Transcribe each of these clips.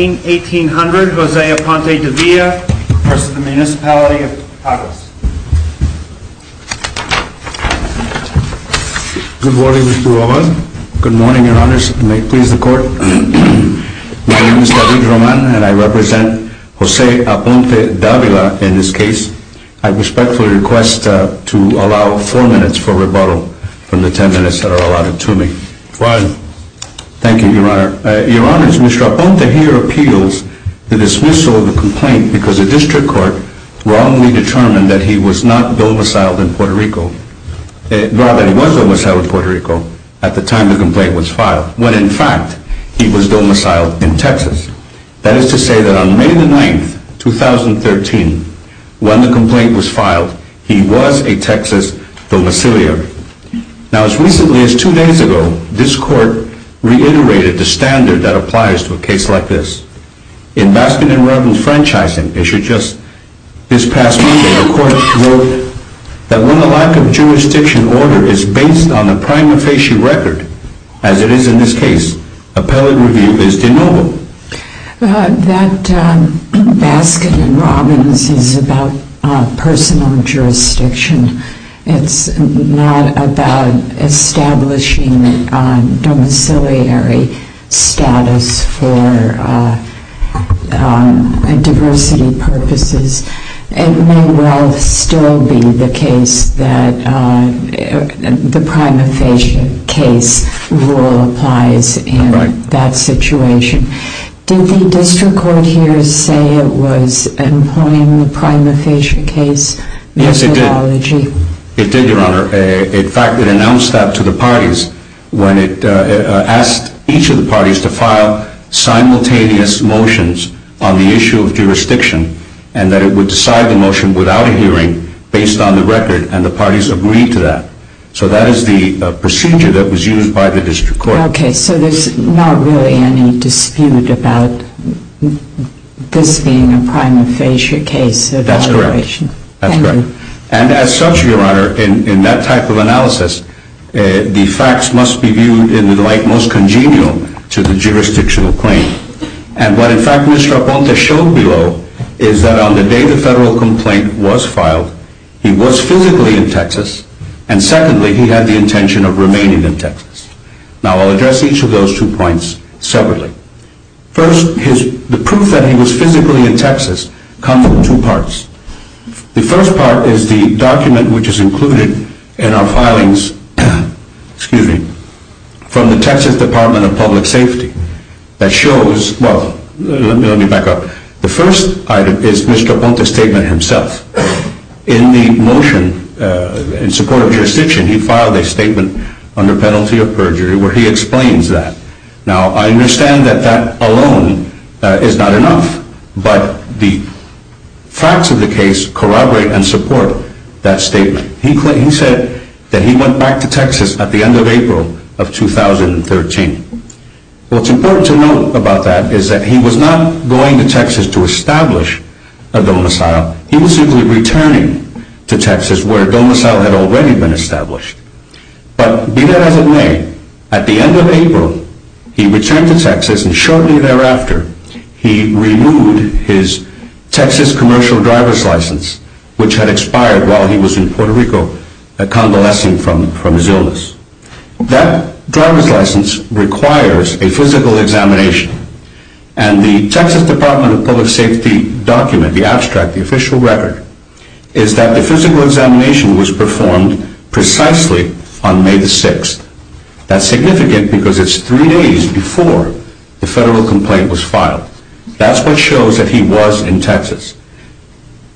181800 Jose Aponte-Davila v. Municipality of Caguas Good morning Mr. Rojas, good morning your honors, and may it please the court. My name is David Roman and I represent Jose Aponte-Davila in this case. I respectfully request to allow 4 minutes for rebuttal from the 10 minutes that are allotted to me. Fine. Thank you your honor. Your honors, Mr. Aponte here appeals the dismissal of the complaint because the district court wrongly determined that he was not domiciled in Puerto Rico, rather he was domiciled in Puerto Rico at the time the complaint was filed, when in fact he was domiciled in Texas. That is to say that on May 9, 2013, when the complaint was filed, he was a Texas domiciliar. Now as recently as 2 days ago, this court reiterated the standard that applies to a case like this. In Baskin and Robbins franchising, it should just this past Monday, the court wrote that when the lack of jurisdiction order is based on the prima facie record, as it is in this case, appellate review is de novo. That Baskin and Robbins is about personal jurisdiction, it's not about establishing domiciliary status for diversity purposes, it may well still be the case that the prima facie case rule applies in that situation. Did the district court here say it was employing the prima facie case methodology? Yes it did. It did your honor. In fact it announced that to the parties when it asked each of the parties to file simultaneous motions on the issue of jurisdiction and that it would decide the motion without a hearing based on the record and the parties agreed to that. So that is the procedure that was used by the district court. Okay so there's not really any dispute about this being a prima facie case evaluation. That's correct. And as such your honor, in that type of analysis, the facts must be viewed in the light most congenial to the jurisdictional claim. And what in fact Mr. Aponte showed below is that on the day the federal complaint was filed, he was physically in Texas and secondly he had the intention of remaining in Texas. Now I'll address each of those two points separately. First, the proof that he was physically in Texas comes in two parts. The first part is the document which is included in our filings from the Texas Department of Public Safety that shows, well let me back up, the first item is Mr. Aponte's statement himself. In the motion in support of jurisdiction he filed a statement under penalty of perjury where he explains that. Now I understand that that alone is not enough but the facts of the case corroborate and support that statement. He said that he went back to Texas at the end of April of 2013. What's important to note about that is that he was not going to Texas to establish a domicile. He was simply returning to Texas where a domicile had already been established. But be that as it may, at the end of April he returned to Texas and shortly thereafter he removed his Texas commercial driver's license which had expired while he was in Puerto Rico convalescing from his illness. That driver's license requires a physical examination and the Texas Department of Public Safety document, the abstract, the official record, is that the physical examination was performed precisely on May the 6th. That's significant because it's three days before the federal complaint was filed. That's what shows that he was in Texas.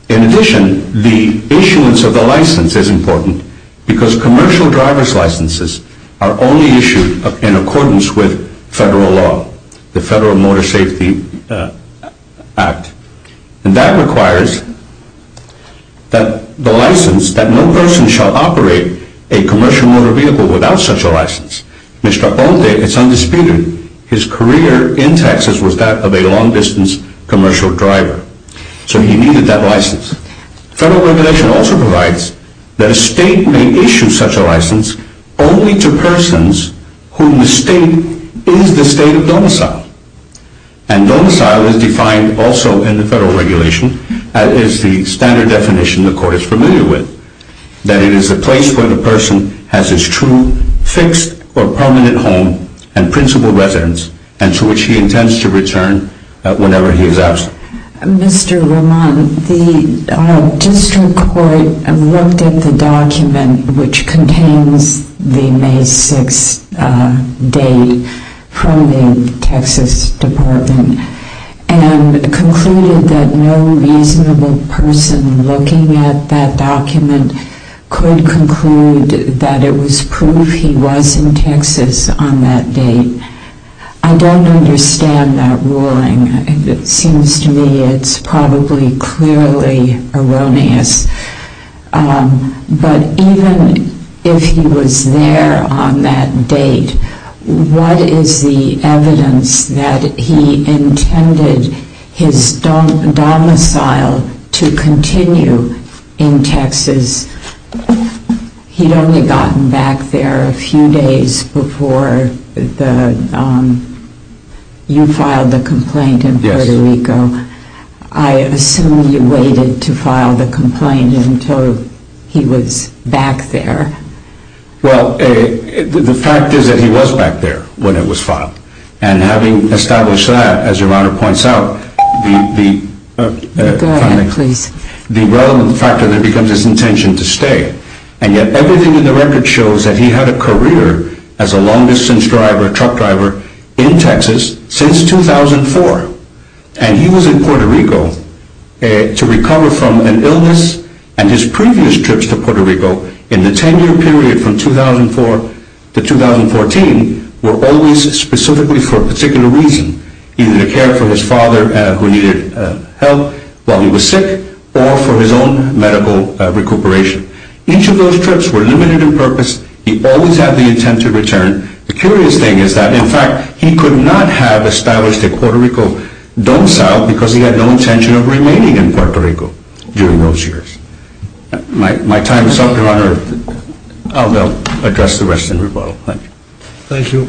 In addition, the issuance of the license is important because commercial driver's licenses are only issued in accordance with federal law, the Federal Motor Safety Act. And that requires that the license, that no person shall operate a commercial motor vehicle without such a license. Mr. Ote, it's undisputed, his career in Texas was that of a long-distance commercial driver. So he needed that license. Federal regulation also provides that a state may issue such a license only to persons whom the state is the state of domicile. And domicile is defined also in the federal regulation as the standard definition the court is familiar with. That it is a place where the person has his true fixed or permanent home and principal residence and to which he intends to return whenever he is absent. Mr. Lamont, the district court looked at the document which contains the May 6th date from the Texas Department and concluded that no reasonable person looking at that document could conclude that it was proof he was in Texas on that date. I don't understand that ruling. It seems to me it's probably clearly erroneous. But even if he was there on that date, what is the evidence that he intended his domicile to continue in Texas? He had only gotten back there a few days before you filed the complaint in Puerto Rico. I assume you waited to file the complaint until he was back there. Well, the fact is that he was back there when it was filed. And having established that, as your Honor points out, the relevant factor there becomes his intention to stay. And yet everything in the record shows that he had a career as a long-distance truck driver in Texas since 2004. And he was in Puerto Rico to recover from an illness. And his previous trips to Puerto Rico in the 10-year period from 2004 to 2014 were always specifically for a particular reason. Either to care for his father who needed help while he was sick or for his own medical recuperation. Each of those trips were limited in purpose. And the curious thing is that, in fact, he could not have established a Puerto Rico domicile because he had no intention of remaining in Puerto Rico during those years. My time is up, your Honor. I'll now address the rest of the rebuttal. Thank you. Thank you.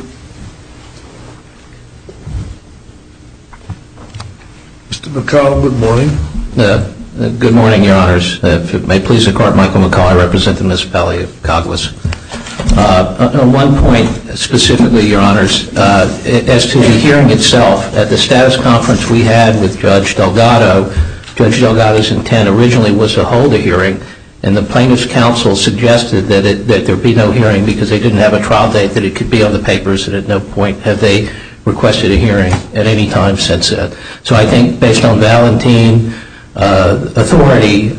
Mr. McCollum, good morning. Good morning, your Honors. If it may please the Court, Michael McCollum, I represent the municipality of Coglis. On one point specifically, your Honors, as to the hearing itself, at the status conference we had with Judge Delgado, Judge Delgado's intent originally was to hold a hearing. And the plaintiff's counsel suggested that there be no hearing because they didn't have a trial date that it could be on the papers. And at no point have they requested a hearing at any time since then. So I think based on Valentin authority,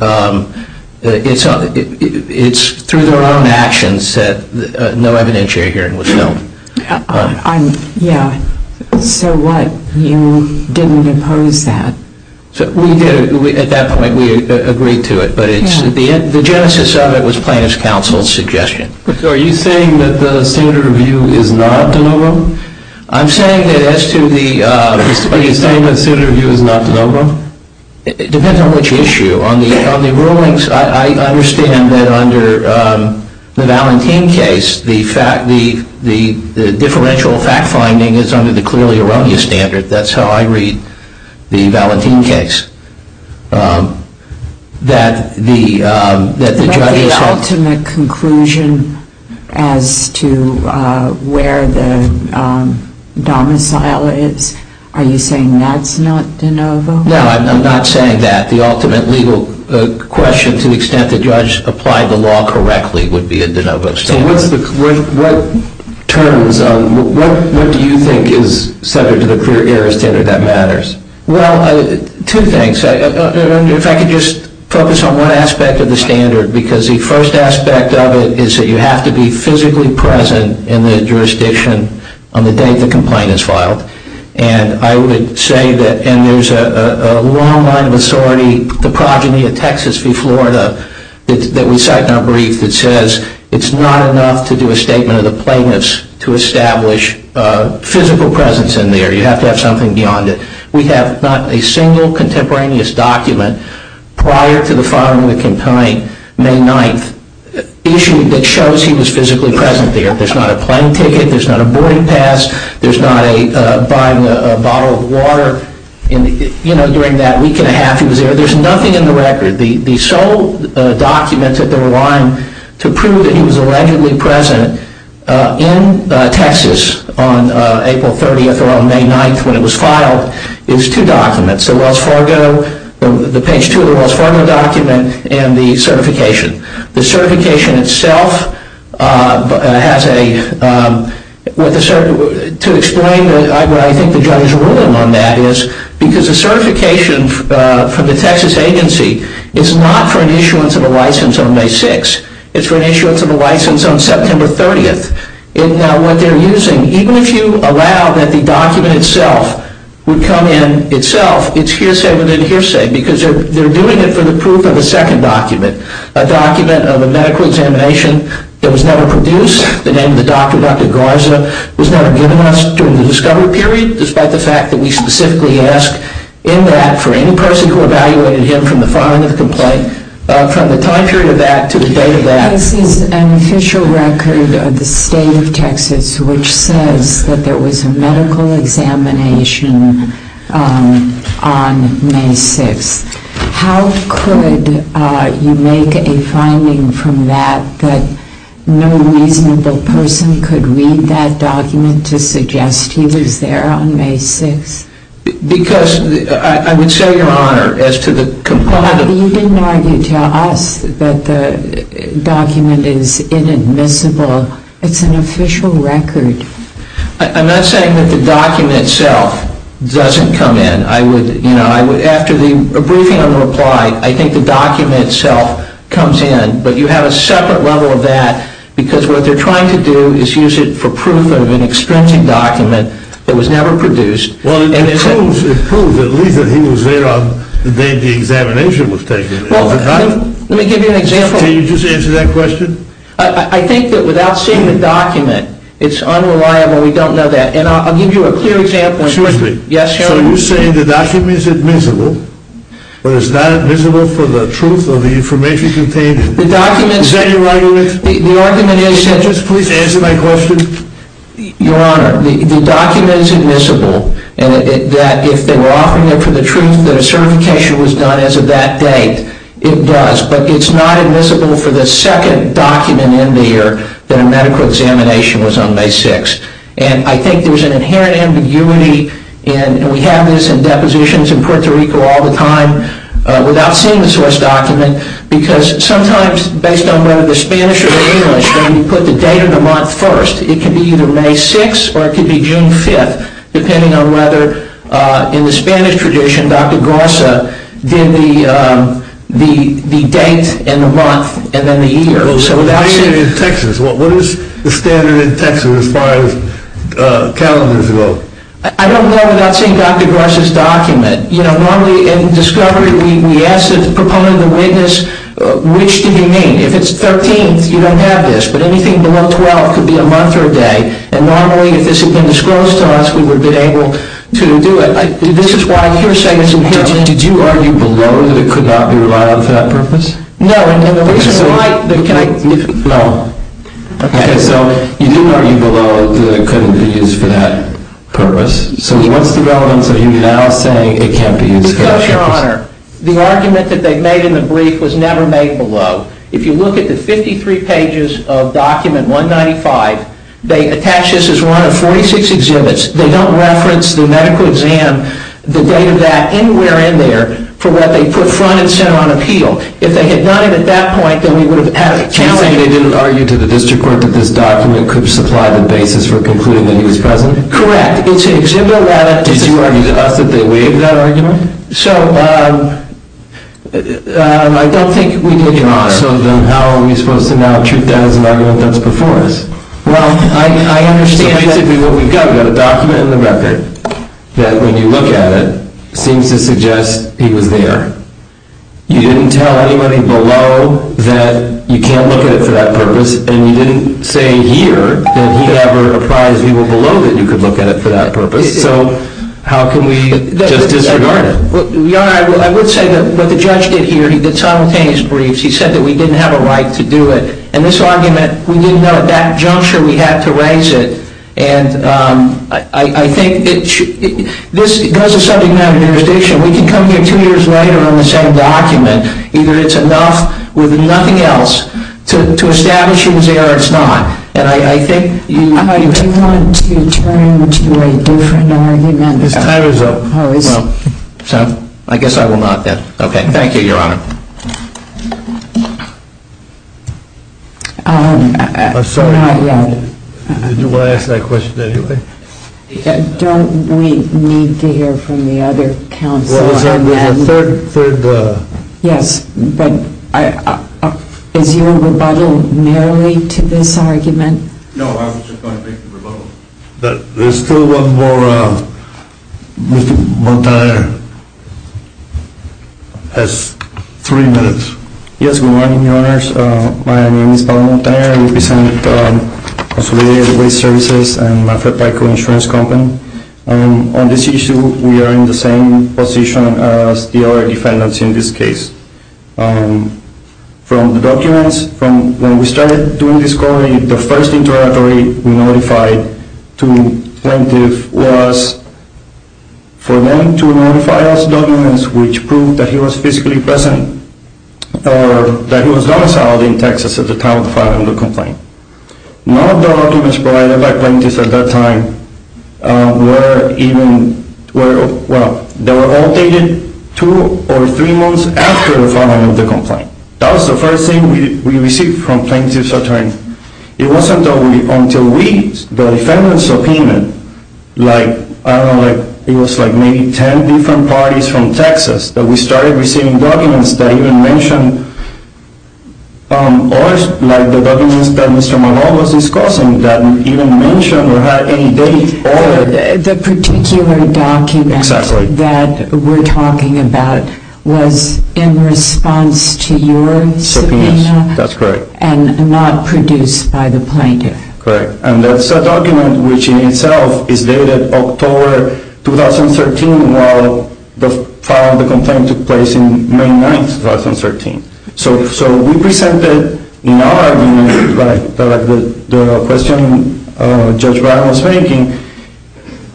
it's through their own actions that no evidentiary hearing was held. Yeah. So what? You didn't impose that. At that point we agreed to it. But the genesis of it was plaintiff's counsel's suggestion. So are you saying that the standard review is not de novo? I'm saying that as to the – Are you saying that standard review is not de novo? It depends on which issue. On the rulings, I understand that under the Valentin case, the fact – the differential fact finding is under the clearly erroneous standard. That's how I read the Valentin case. But the ultimate conclusion as to where the domicile is, are you saying that's not de novo? No, I'm not saying that. The ultimate legal question to the extent the judge applied the law correctly would be a de novo standard. So what's the – what turns on – what do you think is centered to the clear error standard that matters? Well, two things. If I could just focus on one aspect of the standard. Because the first aspect of it is that you have to be physically present in the jurisdiction on the day the complaint is filed. And I would say that – and there's a long line of authority, the progeny of Texas v. Florida, that we cite in our brief, that says it's not enough to do a statement of the plaintiff's to establish physical presence in there. You have to have something beyond it. We have not a single contemporaneous document prior to the filing of the complaint, May 9th, issued that shows he was physically present there. There's not a plane ticket. There's not a boarding pass. There's not a – buying a bottle of water in – you know, during that week and a half he was there. There's nothing in the record. The sole document that they're relying to prove that he was allegedly present in Texas on April 30th or on May 9th when it was filed is two documents. The Wells Fargo – the page two of the Wells Fargo document and the certification. The certification itself has a – to explain what I think the judge's ruling on that is, because the certification from the Texas agency is not for an issuance of a license on May 6th. It's for an issuance of a license on September 30th. And now what they're using, even if you allow that the document itself would come in itself, it's hearsay within hearsay because they're doing it for the proof of a second document, a document of a medical examination that was never produced. The name of the doctor, Dr. Garza, was never given to us during the discovery period, despite the fact that we specifically ask in that for any person who evaluated him from the filing of the complaint, from the time period of that to the date of that. This is an official record of the state of Texas which says that there was a medical examination on May 6th. How could you make a finding from that that no reasonable person could read that document to suggest he was there on May 6th? Because – I would say, Your Honor, as to the complaint of – You didn't argue to us that the document is inadmissible. It's an official record. I'm not saying that the document itself doesn't come in. I would – you know, I would – after a briefing on the reply, I think the document itself comes in. But you have a separate level of that because what they're trying to do is use it for proof of an expensive document that was never produced. Well, it proves at least that he was there on the day the examination was taken. Let me give you an example. Can you just answer that question? I think that without seeing the document, it's unreliable. We don't know that. And I'll give you a clear example. Excuse me. Yes, Your Honor. So you're saying the document is admissible, but it's not admissible for the truth of the information contained in it. The document is – Is that your argument? The argument is – Can you just please answer my question? Your Honor, the document is admissible, and that if they were offering it for the truth that a certification was done as of that date, it does. But it's not admissible for the second document in there that a medical examination was on May 6th. And I think there's an inherent ambiguity, and we have this in depositions in Puerto Rico all the time, without seeing the source document, because sometimes, based on whether they're Spanish or English, when you put the date of the month first, it can be either May 6th or it can be June 5th, depending on whether, in the Spanish tradition, Dr. Garza did the date and the month and then the year. What is the standard in Texas as far as calendars go? I don't know without seeing Dr. Garza's document. Normally, in discovery, we ask the proponent, the witness, which do you mean? If it's 13th, you don't have this. But anything below 12 could be a month or a day. And normally, if this had been disclosed to us, we would have been able to do it. This is why I'm here saying it's inherent. Did you argue below that it could not be relied on for that purpose? No, and the reason why— Can I— No. Okay, so you did argue below that it couldn't be used for that purpose. So what's the relevance of you now saying it can't be used for that purpose? Because, Your Honor, the argument that they made in the brief was never made below. If you look at the 53 pages of Document 195, they attach this as one of 46 exhibits. They don't reference the medical exam, the date of that, anywhere in there, for what they put front and center on appeal. If they had done it at that point, then we would have had a calendar— You're saying they didn't argue to the district court that this document could supply the basis for concluding that he was present? Correct. It's an exhibit that— Did you argue to us that they waived that argument? So I don't think we did, Your Honor. So then how are we supposed to now treat that as an argument that's before us? Well, I understand that— So basically what we've got, we've got a document in the record that, when you look at it, seems to suggest he was there. You didn't tell anybody below that you can't look at it for that purpose. And you didn't say here that he ever apprised people below that you could look at it for that purpose. So how can we just disregard it? Your Honor, I would say that what the judge did here, he did simultaneous briefs. He said that we didn't have a right to do it. And this argument, we didn't know at that juncture we had to raise it. And I think this goes to subject matter jurisdiction. We can come here two years later on the same document. Either it's enough or nothing else to establish he was there or it's not. And I think— Do you want to turn to a different argument? His time is up. I guess I will not then. Okay, thank you, Your Honor. I'm sorry. Did you want to ask that question anyway? Don't we need to hear from the other counsel? Well, it was our third— Yes, but is your rebuttal merely to this argument? No, I was just going to make the rebuttal. But there's still one more. Mr. Bontire has three minutes. Yes, good morning, Your Honors. My name is Pablo Bontire. I represent Consolidated Waste Services and Mafepaico Insurance Company. On this issue, we are in the same position as the other defendants in this case. From the documents, from when we started doing this inquiry, the first interrogatory we notified to plaintiff was for them to notify us documents which proved that he was physically present or that he was domiciled in Texas at the time of the filing of the complaint. None of the documents provided by plaintiffs at that time were even— Well, they were all dated two or three months after the filing of the complaint. That was the first thing we received from plaintiffs at that time. It wasn't until we—the defendant's subpoena, like, I don't know, it was like maybe ten different parties from Texas that we started receiving documents that even mentioned— or like the documents that Mr. Malone was discussing that even mentioned or had any date or— The particular document that we're talking about was in response to your subpoena? Subpoenas, that's correct. And not produced by the plaintiff? Correct. And that's a document which in itself is dated October 2013 while the filing of the complaint took place in May 9, 2013. So we presented in our argument, like the question Judge Brown was making,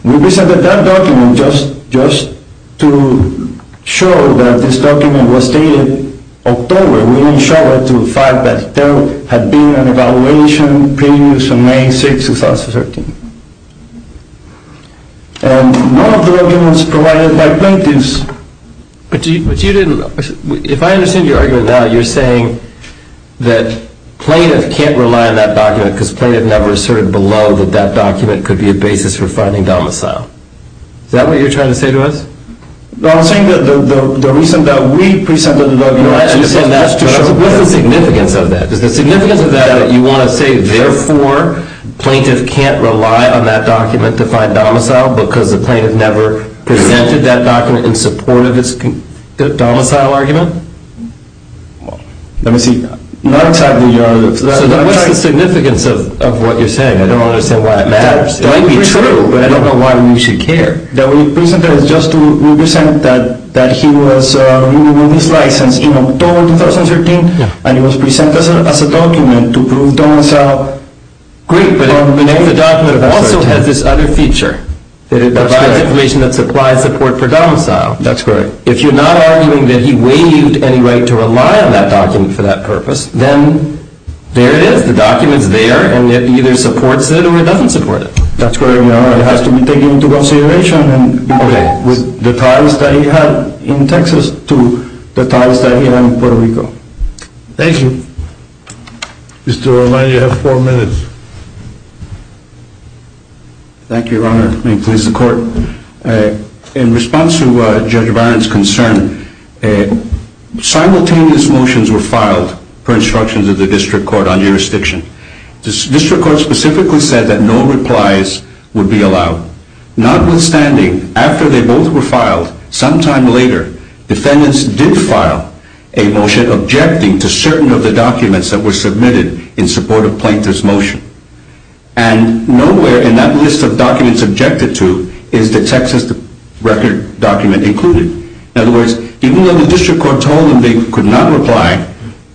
we presented that document just to show that this document was dated October. We didn't show it to the fact that there had been an evaluation previous to May 6, 2013. And none of the documents provided by plaintiffs— But you didn't—if I understand your argument now, you're saying that plaintiff can't rely on that document because plaintiff never asserted below that that document could be a basis for finding domicile. Is that what you're trying to say to us? No, I'm saying that the reason that we presented it— I understand that, but what's the significance of that? Is the significance of that that you want to say, therefore, plaintiff can't rely on that document to find domicile because the plaintiff never presented that document in support of its domicile argument? Let me see. So what's the significance of what you're saying? I don't understand why that matters. It might be true, but I don't know why we should care. The reason that we presented it is just to represent that he was— he was licensed in October 2013, and he was presented as a document to prove domicile. Great, but if the document also has this other feature, that it provides information that supplies support for domicile— That's correct. If you're not arguing that he waived any right to rely on that document for that purpose, then there it is. The document's there, and it either supports it or it doesn't support it. That's correct, Your Honor. It has to be taken into consideration with the ties that he had in Texas to the ties that he had in Puerto Rico. Thank you. Mr. Romano, you have four minutes. Thank you, Your Honor. May it please the Court. In response to Judge Barron's concern, simultaneous motions were filed per instructions of the district court on jurisdiction. The district court specifically said that no replies would be allowed. Notwithstanding, after they both were filed, sometime later, defendants did file a motion objecting to certain of the documents that were submitted in support of Plaintiff's motion. And nowhere in that list of documents objected to is the Texas record document included. In other words, even though the district court told them they could not reply,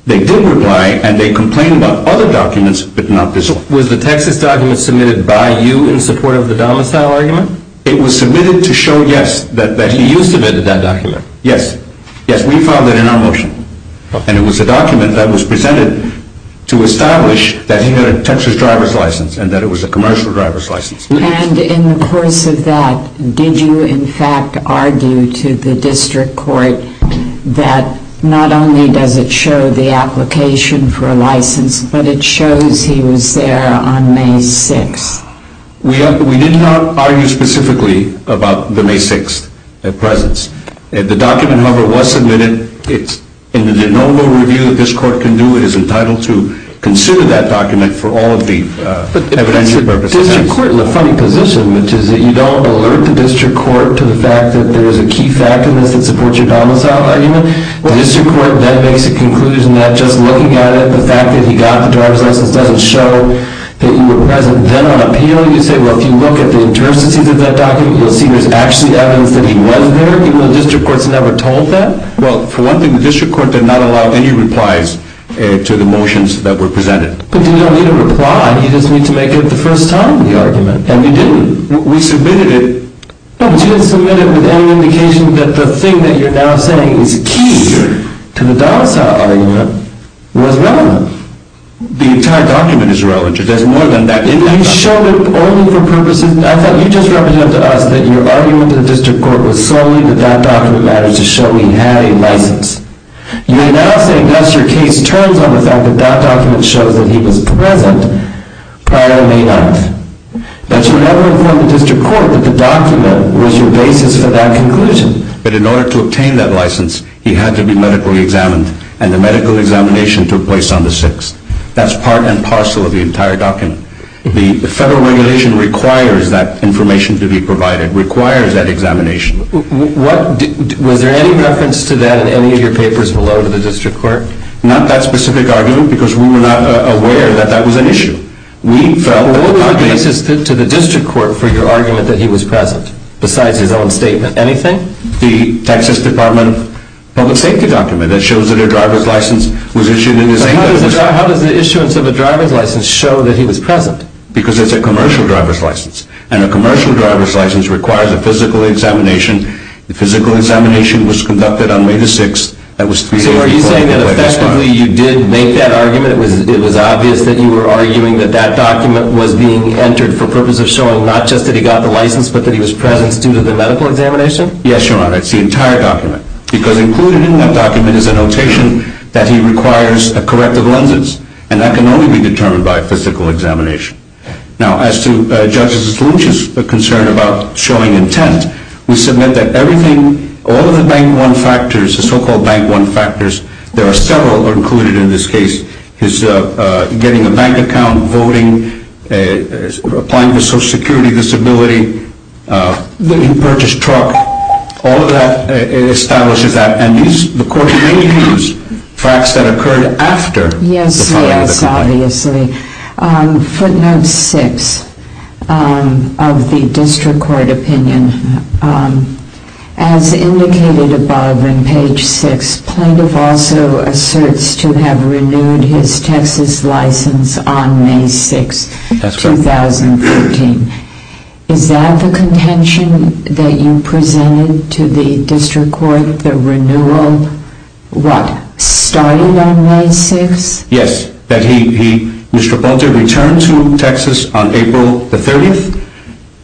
they did reply, and they complained about other documents, but not this one. Was the Texas document submitted by you in support of the domicile argument? It was submitted to show, yes, that he used that document. Yes. Yes, we filed it in our motion. And it was a document that was presented to establish that he had a Texas driver's license and that it was a commercial driver's license. And in the course of that, did you in fact argue to the district court that not only does it show the application for a license, but it shows he was there on May 6th? We did not argue specifically about the May 6th presence. The document, however, was submitted. It's in the normal review that this court can do. It is entitled to consider that document for all of the evidential purposes. But that's the district court in a funny position, which is that you don't alert the district court to the fact that there is a key fact in this that supports your domicile argument. The district court then makes a conclusion that just looking at it, the fact that he got the driver's license doesn't show that he was present. Then on appeal, you say, well, if you look at the terms that he did that document, you'll see there's actually evidence that he was there, even though the district court's never told that? Well, for one thing, the district court did not allow any replies to the motions that were presented. But you don't need a reply. You just need to make it the first time in the argument. And we didn't. We submitted it. No, but you didn't submit it with any indication that the thing that you're now saying is key to the domicile argument was relevant. The entire document is relevant. There's more than that in that document. You showed it only for purposes. I thought you just represented to us that your argument to the district court was solely that that document matters to show he had a license. You're now saying that's your case terms on the fact that that document shows that he was present prior to May 9th. But you never informed the district court that the document was your basis for that conclusion. But in order to obtain that license, he had to be medically examined, and the medical examination took place on the 6th. That's part and parcel of the entire document. The federal regulation requires that information to be provided, requires that examination. Was there any reference to that in any of your papers below to the district court? Not that specific argument, because we were not aware that that was an issue. What was the basis to the district court for your argument that he was present, besides his own statement? Anything? The Texas Department of Public Safety document that shows that a driver's license was issued. How does the issuance of a driver's license show that he was present? Because it's a commercial driver's license, and a commercial driver's license requires a physical examination. The physical examination was conducted on May 6th. So are you saying that effectively you did make that argument? It was obvious that you were arguing that that document was being entered for the purpose of showing not just that he got the license, but that he was present due to the medical examination? Yes, Your Honor. It's the entire document. Because included in that document is a notation that he requires a corrective lenses, and that can only be determined by a physical examination. Now, as to Judge Stolich's concern about showing intent, we submit that everything, all of the Bank 1 factors, the so-called Bank 1 factors, there are several that are included in this case, his getting a bank account, voting, applying for Social Security disability, that he purchased a truck, all of that establishes that, and the Court may use facts that occurred after the filing of the complaint. Yes, yes, obviously. Footnote 6 of the District Court opinion, as indicated above in page 6, plaintiff also asserts to have renewed his Texas license on May 6, 2014. That's correct. Is that the contention that you presented to the District Court, the renewal, what, started on May 6? Yes, that he, Mr. Bunter, returned to Texas on April the 30th,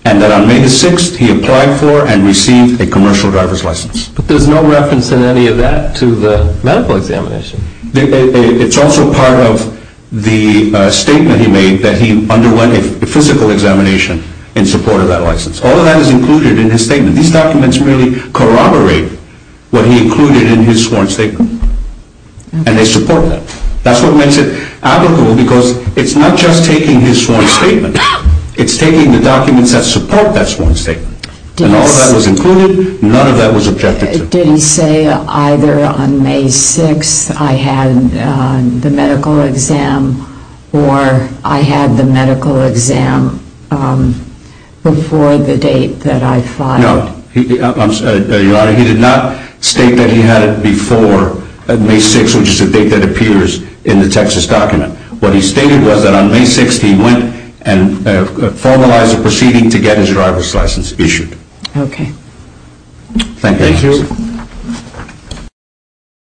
and that on May the 6th he applied for and received a commercial driver's license. But there's no reference in any of that to the medical examination. It's also part of the statement he made that he underwent a physical examination in support of that license. All of that is included in his statement. These documents really corroborate what he included in his sworn statement, and they support that. That's what makes it applicable because it's not just taking his sworn statement, it's taking the documents that support that sworn statement. And all of that was included, none of that was objected to. Did he say either on May 6 I had the medical exam, or I had the medical exam before the date that I filed? No, Your Honor, he did not state that he had it before May 6, which is the date that appears in the Texas document. What he stated was that on May 6 he went and formalized a proceeding to get his driver's license issued. Okay. Thank you.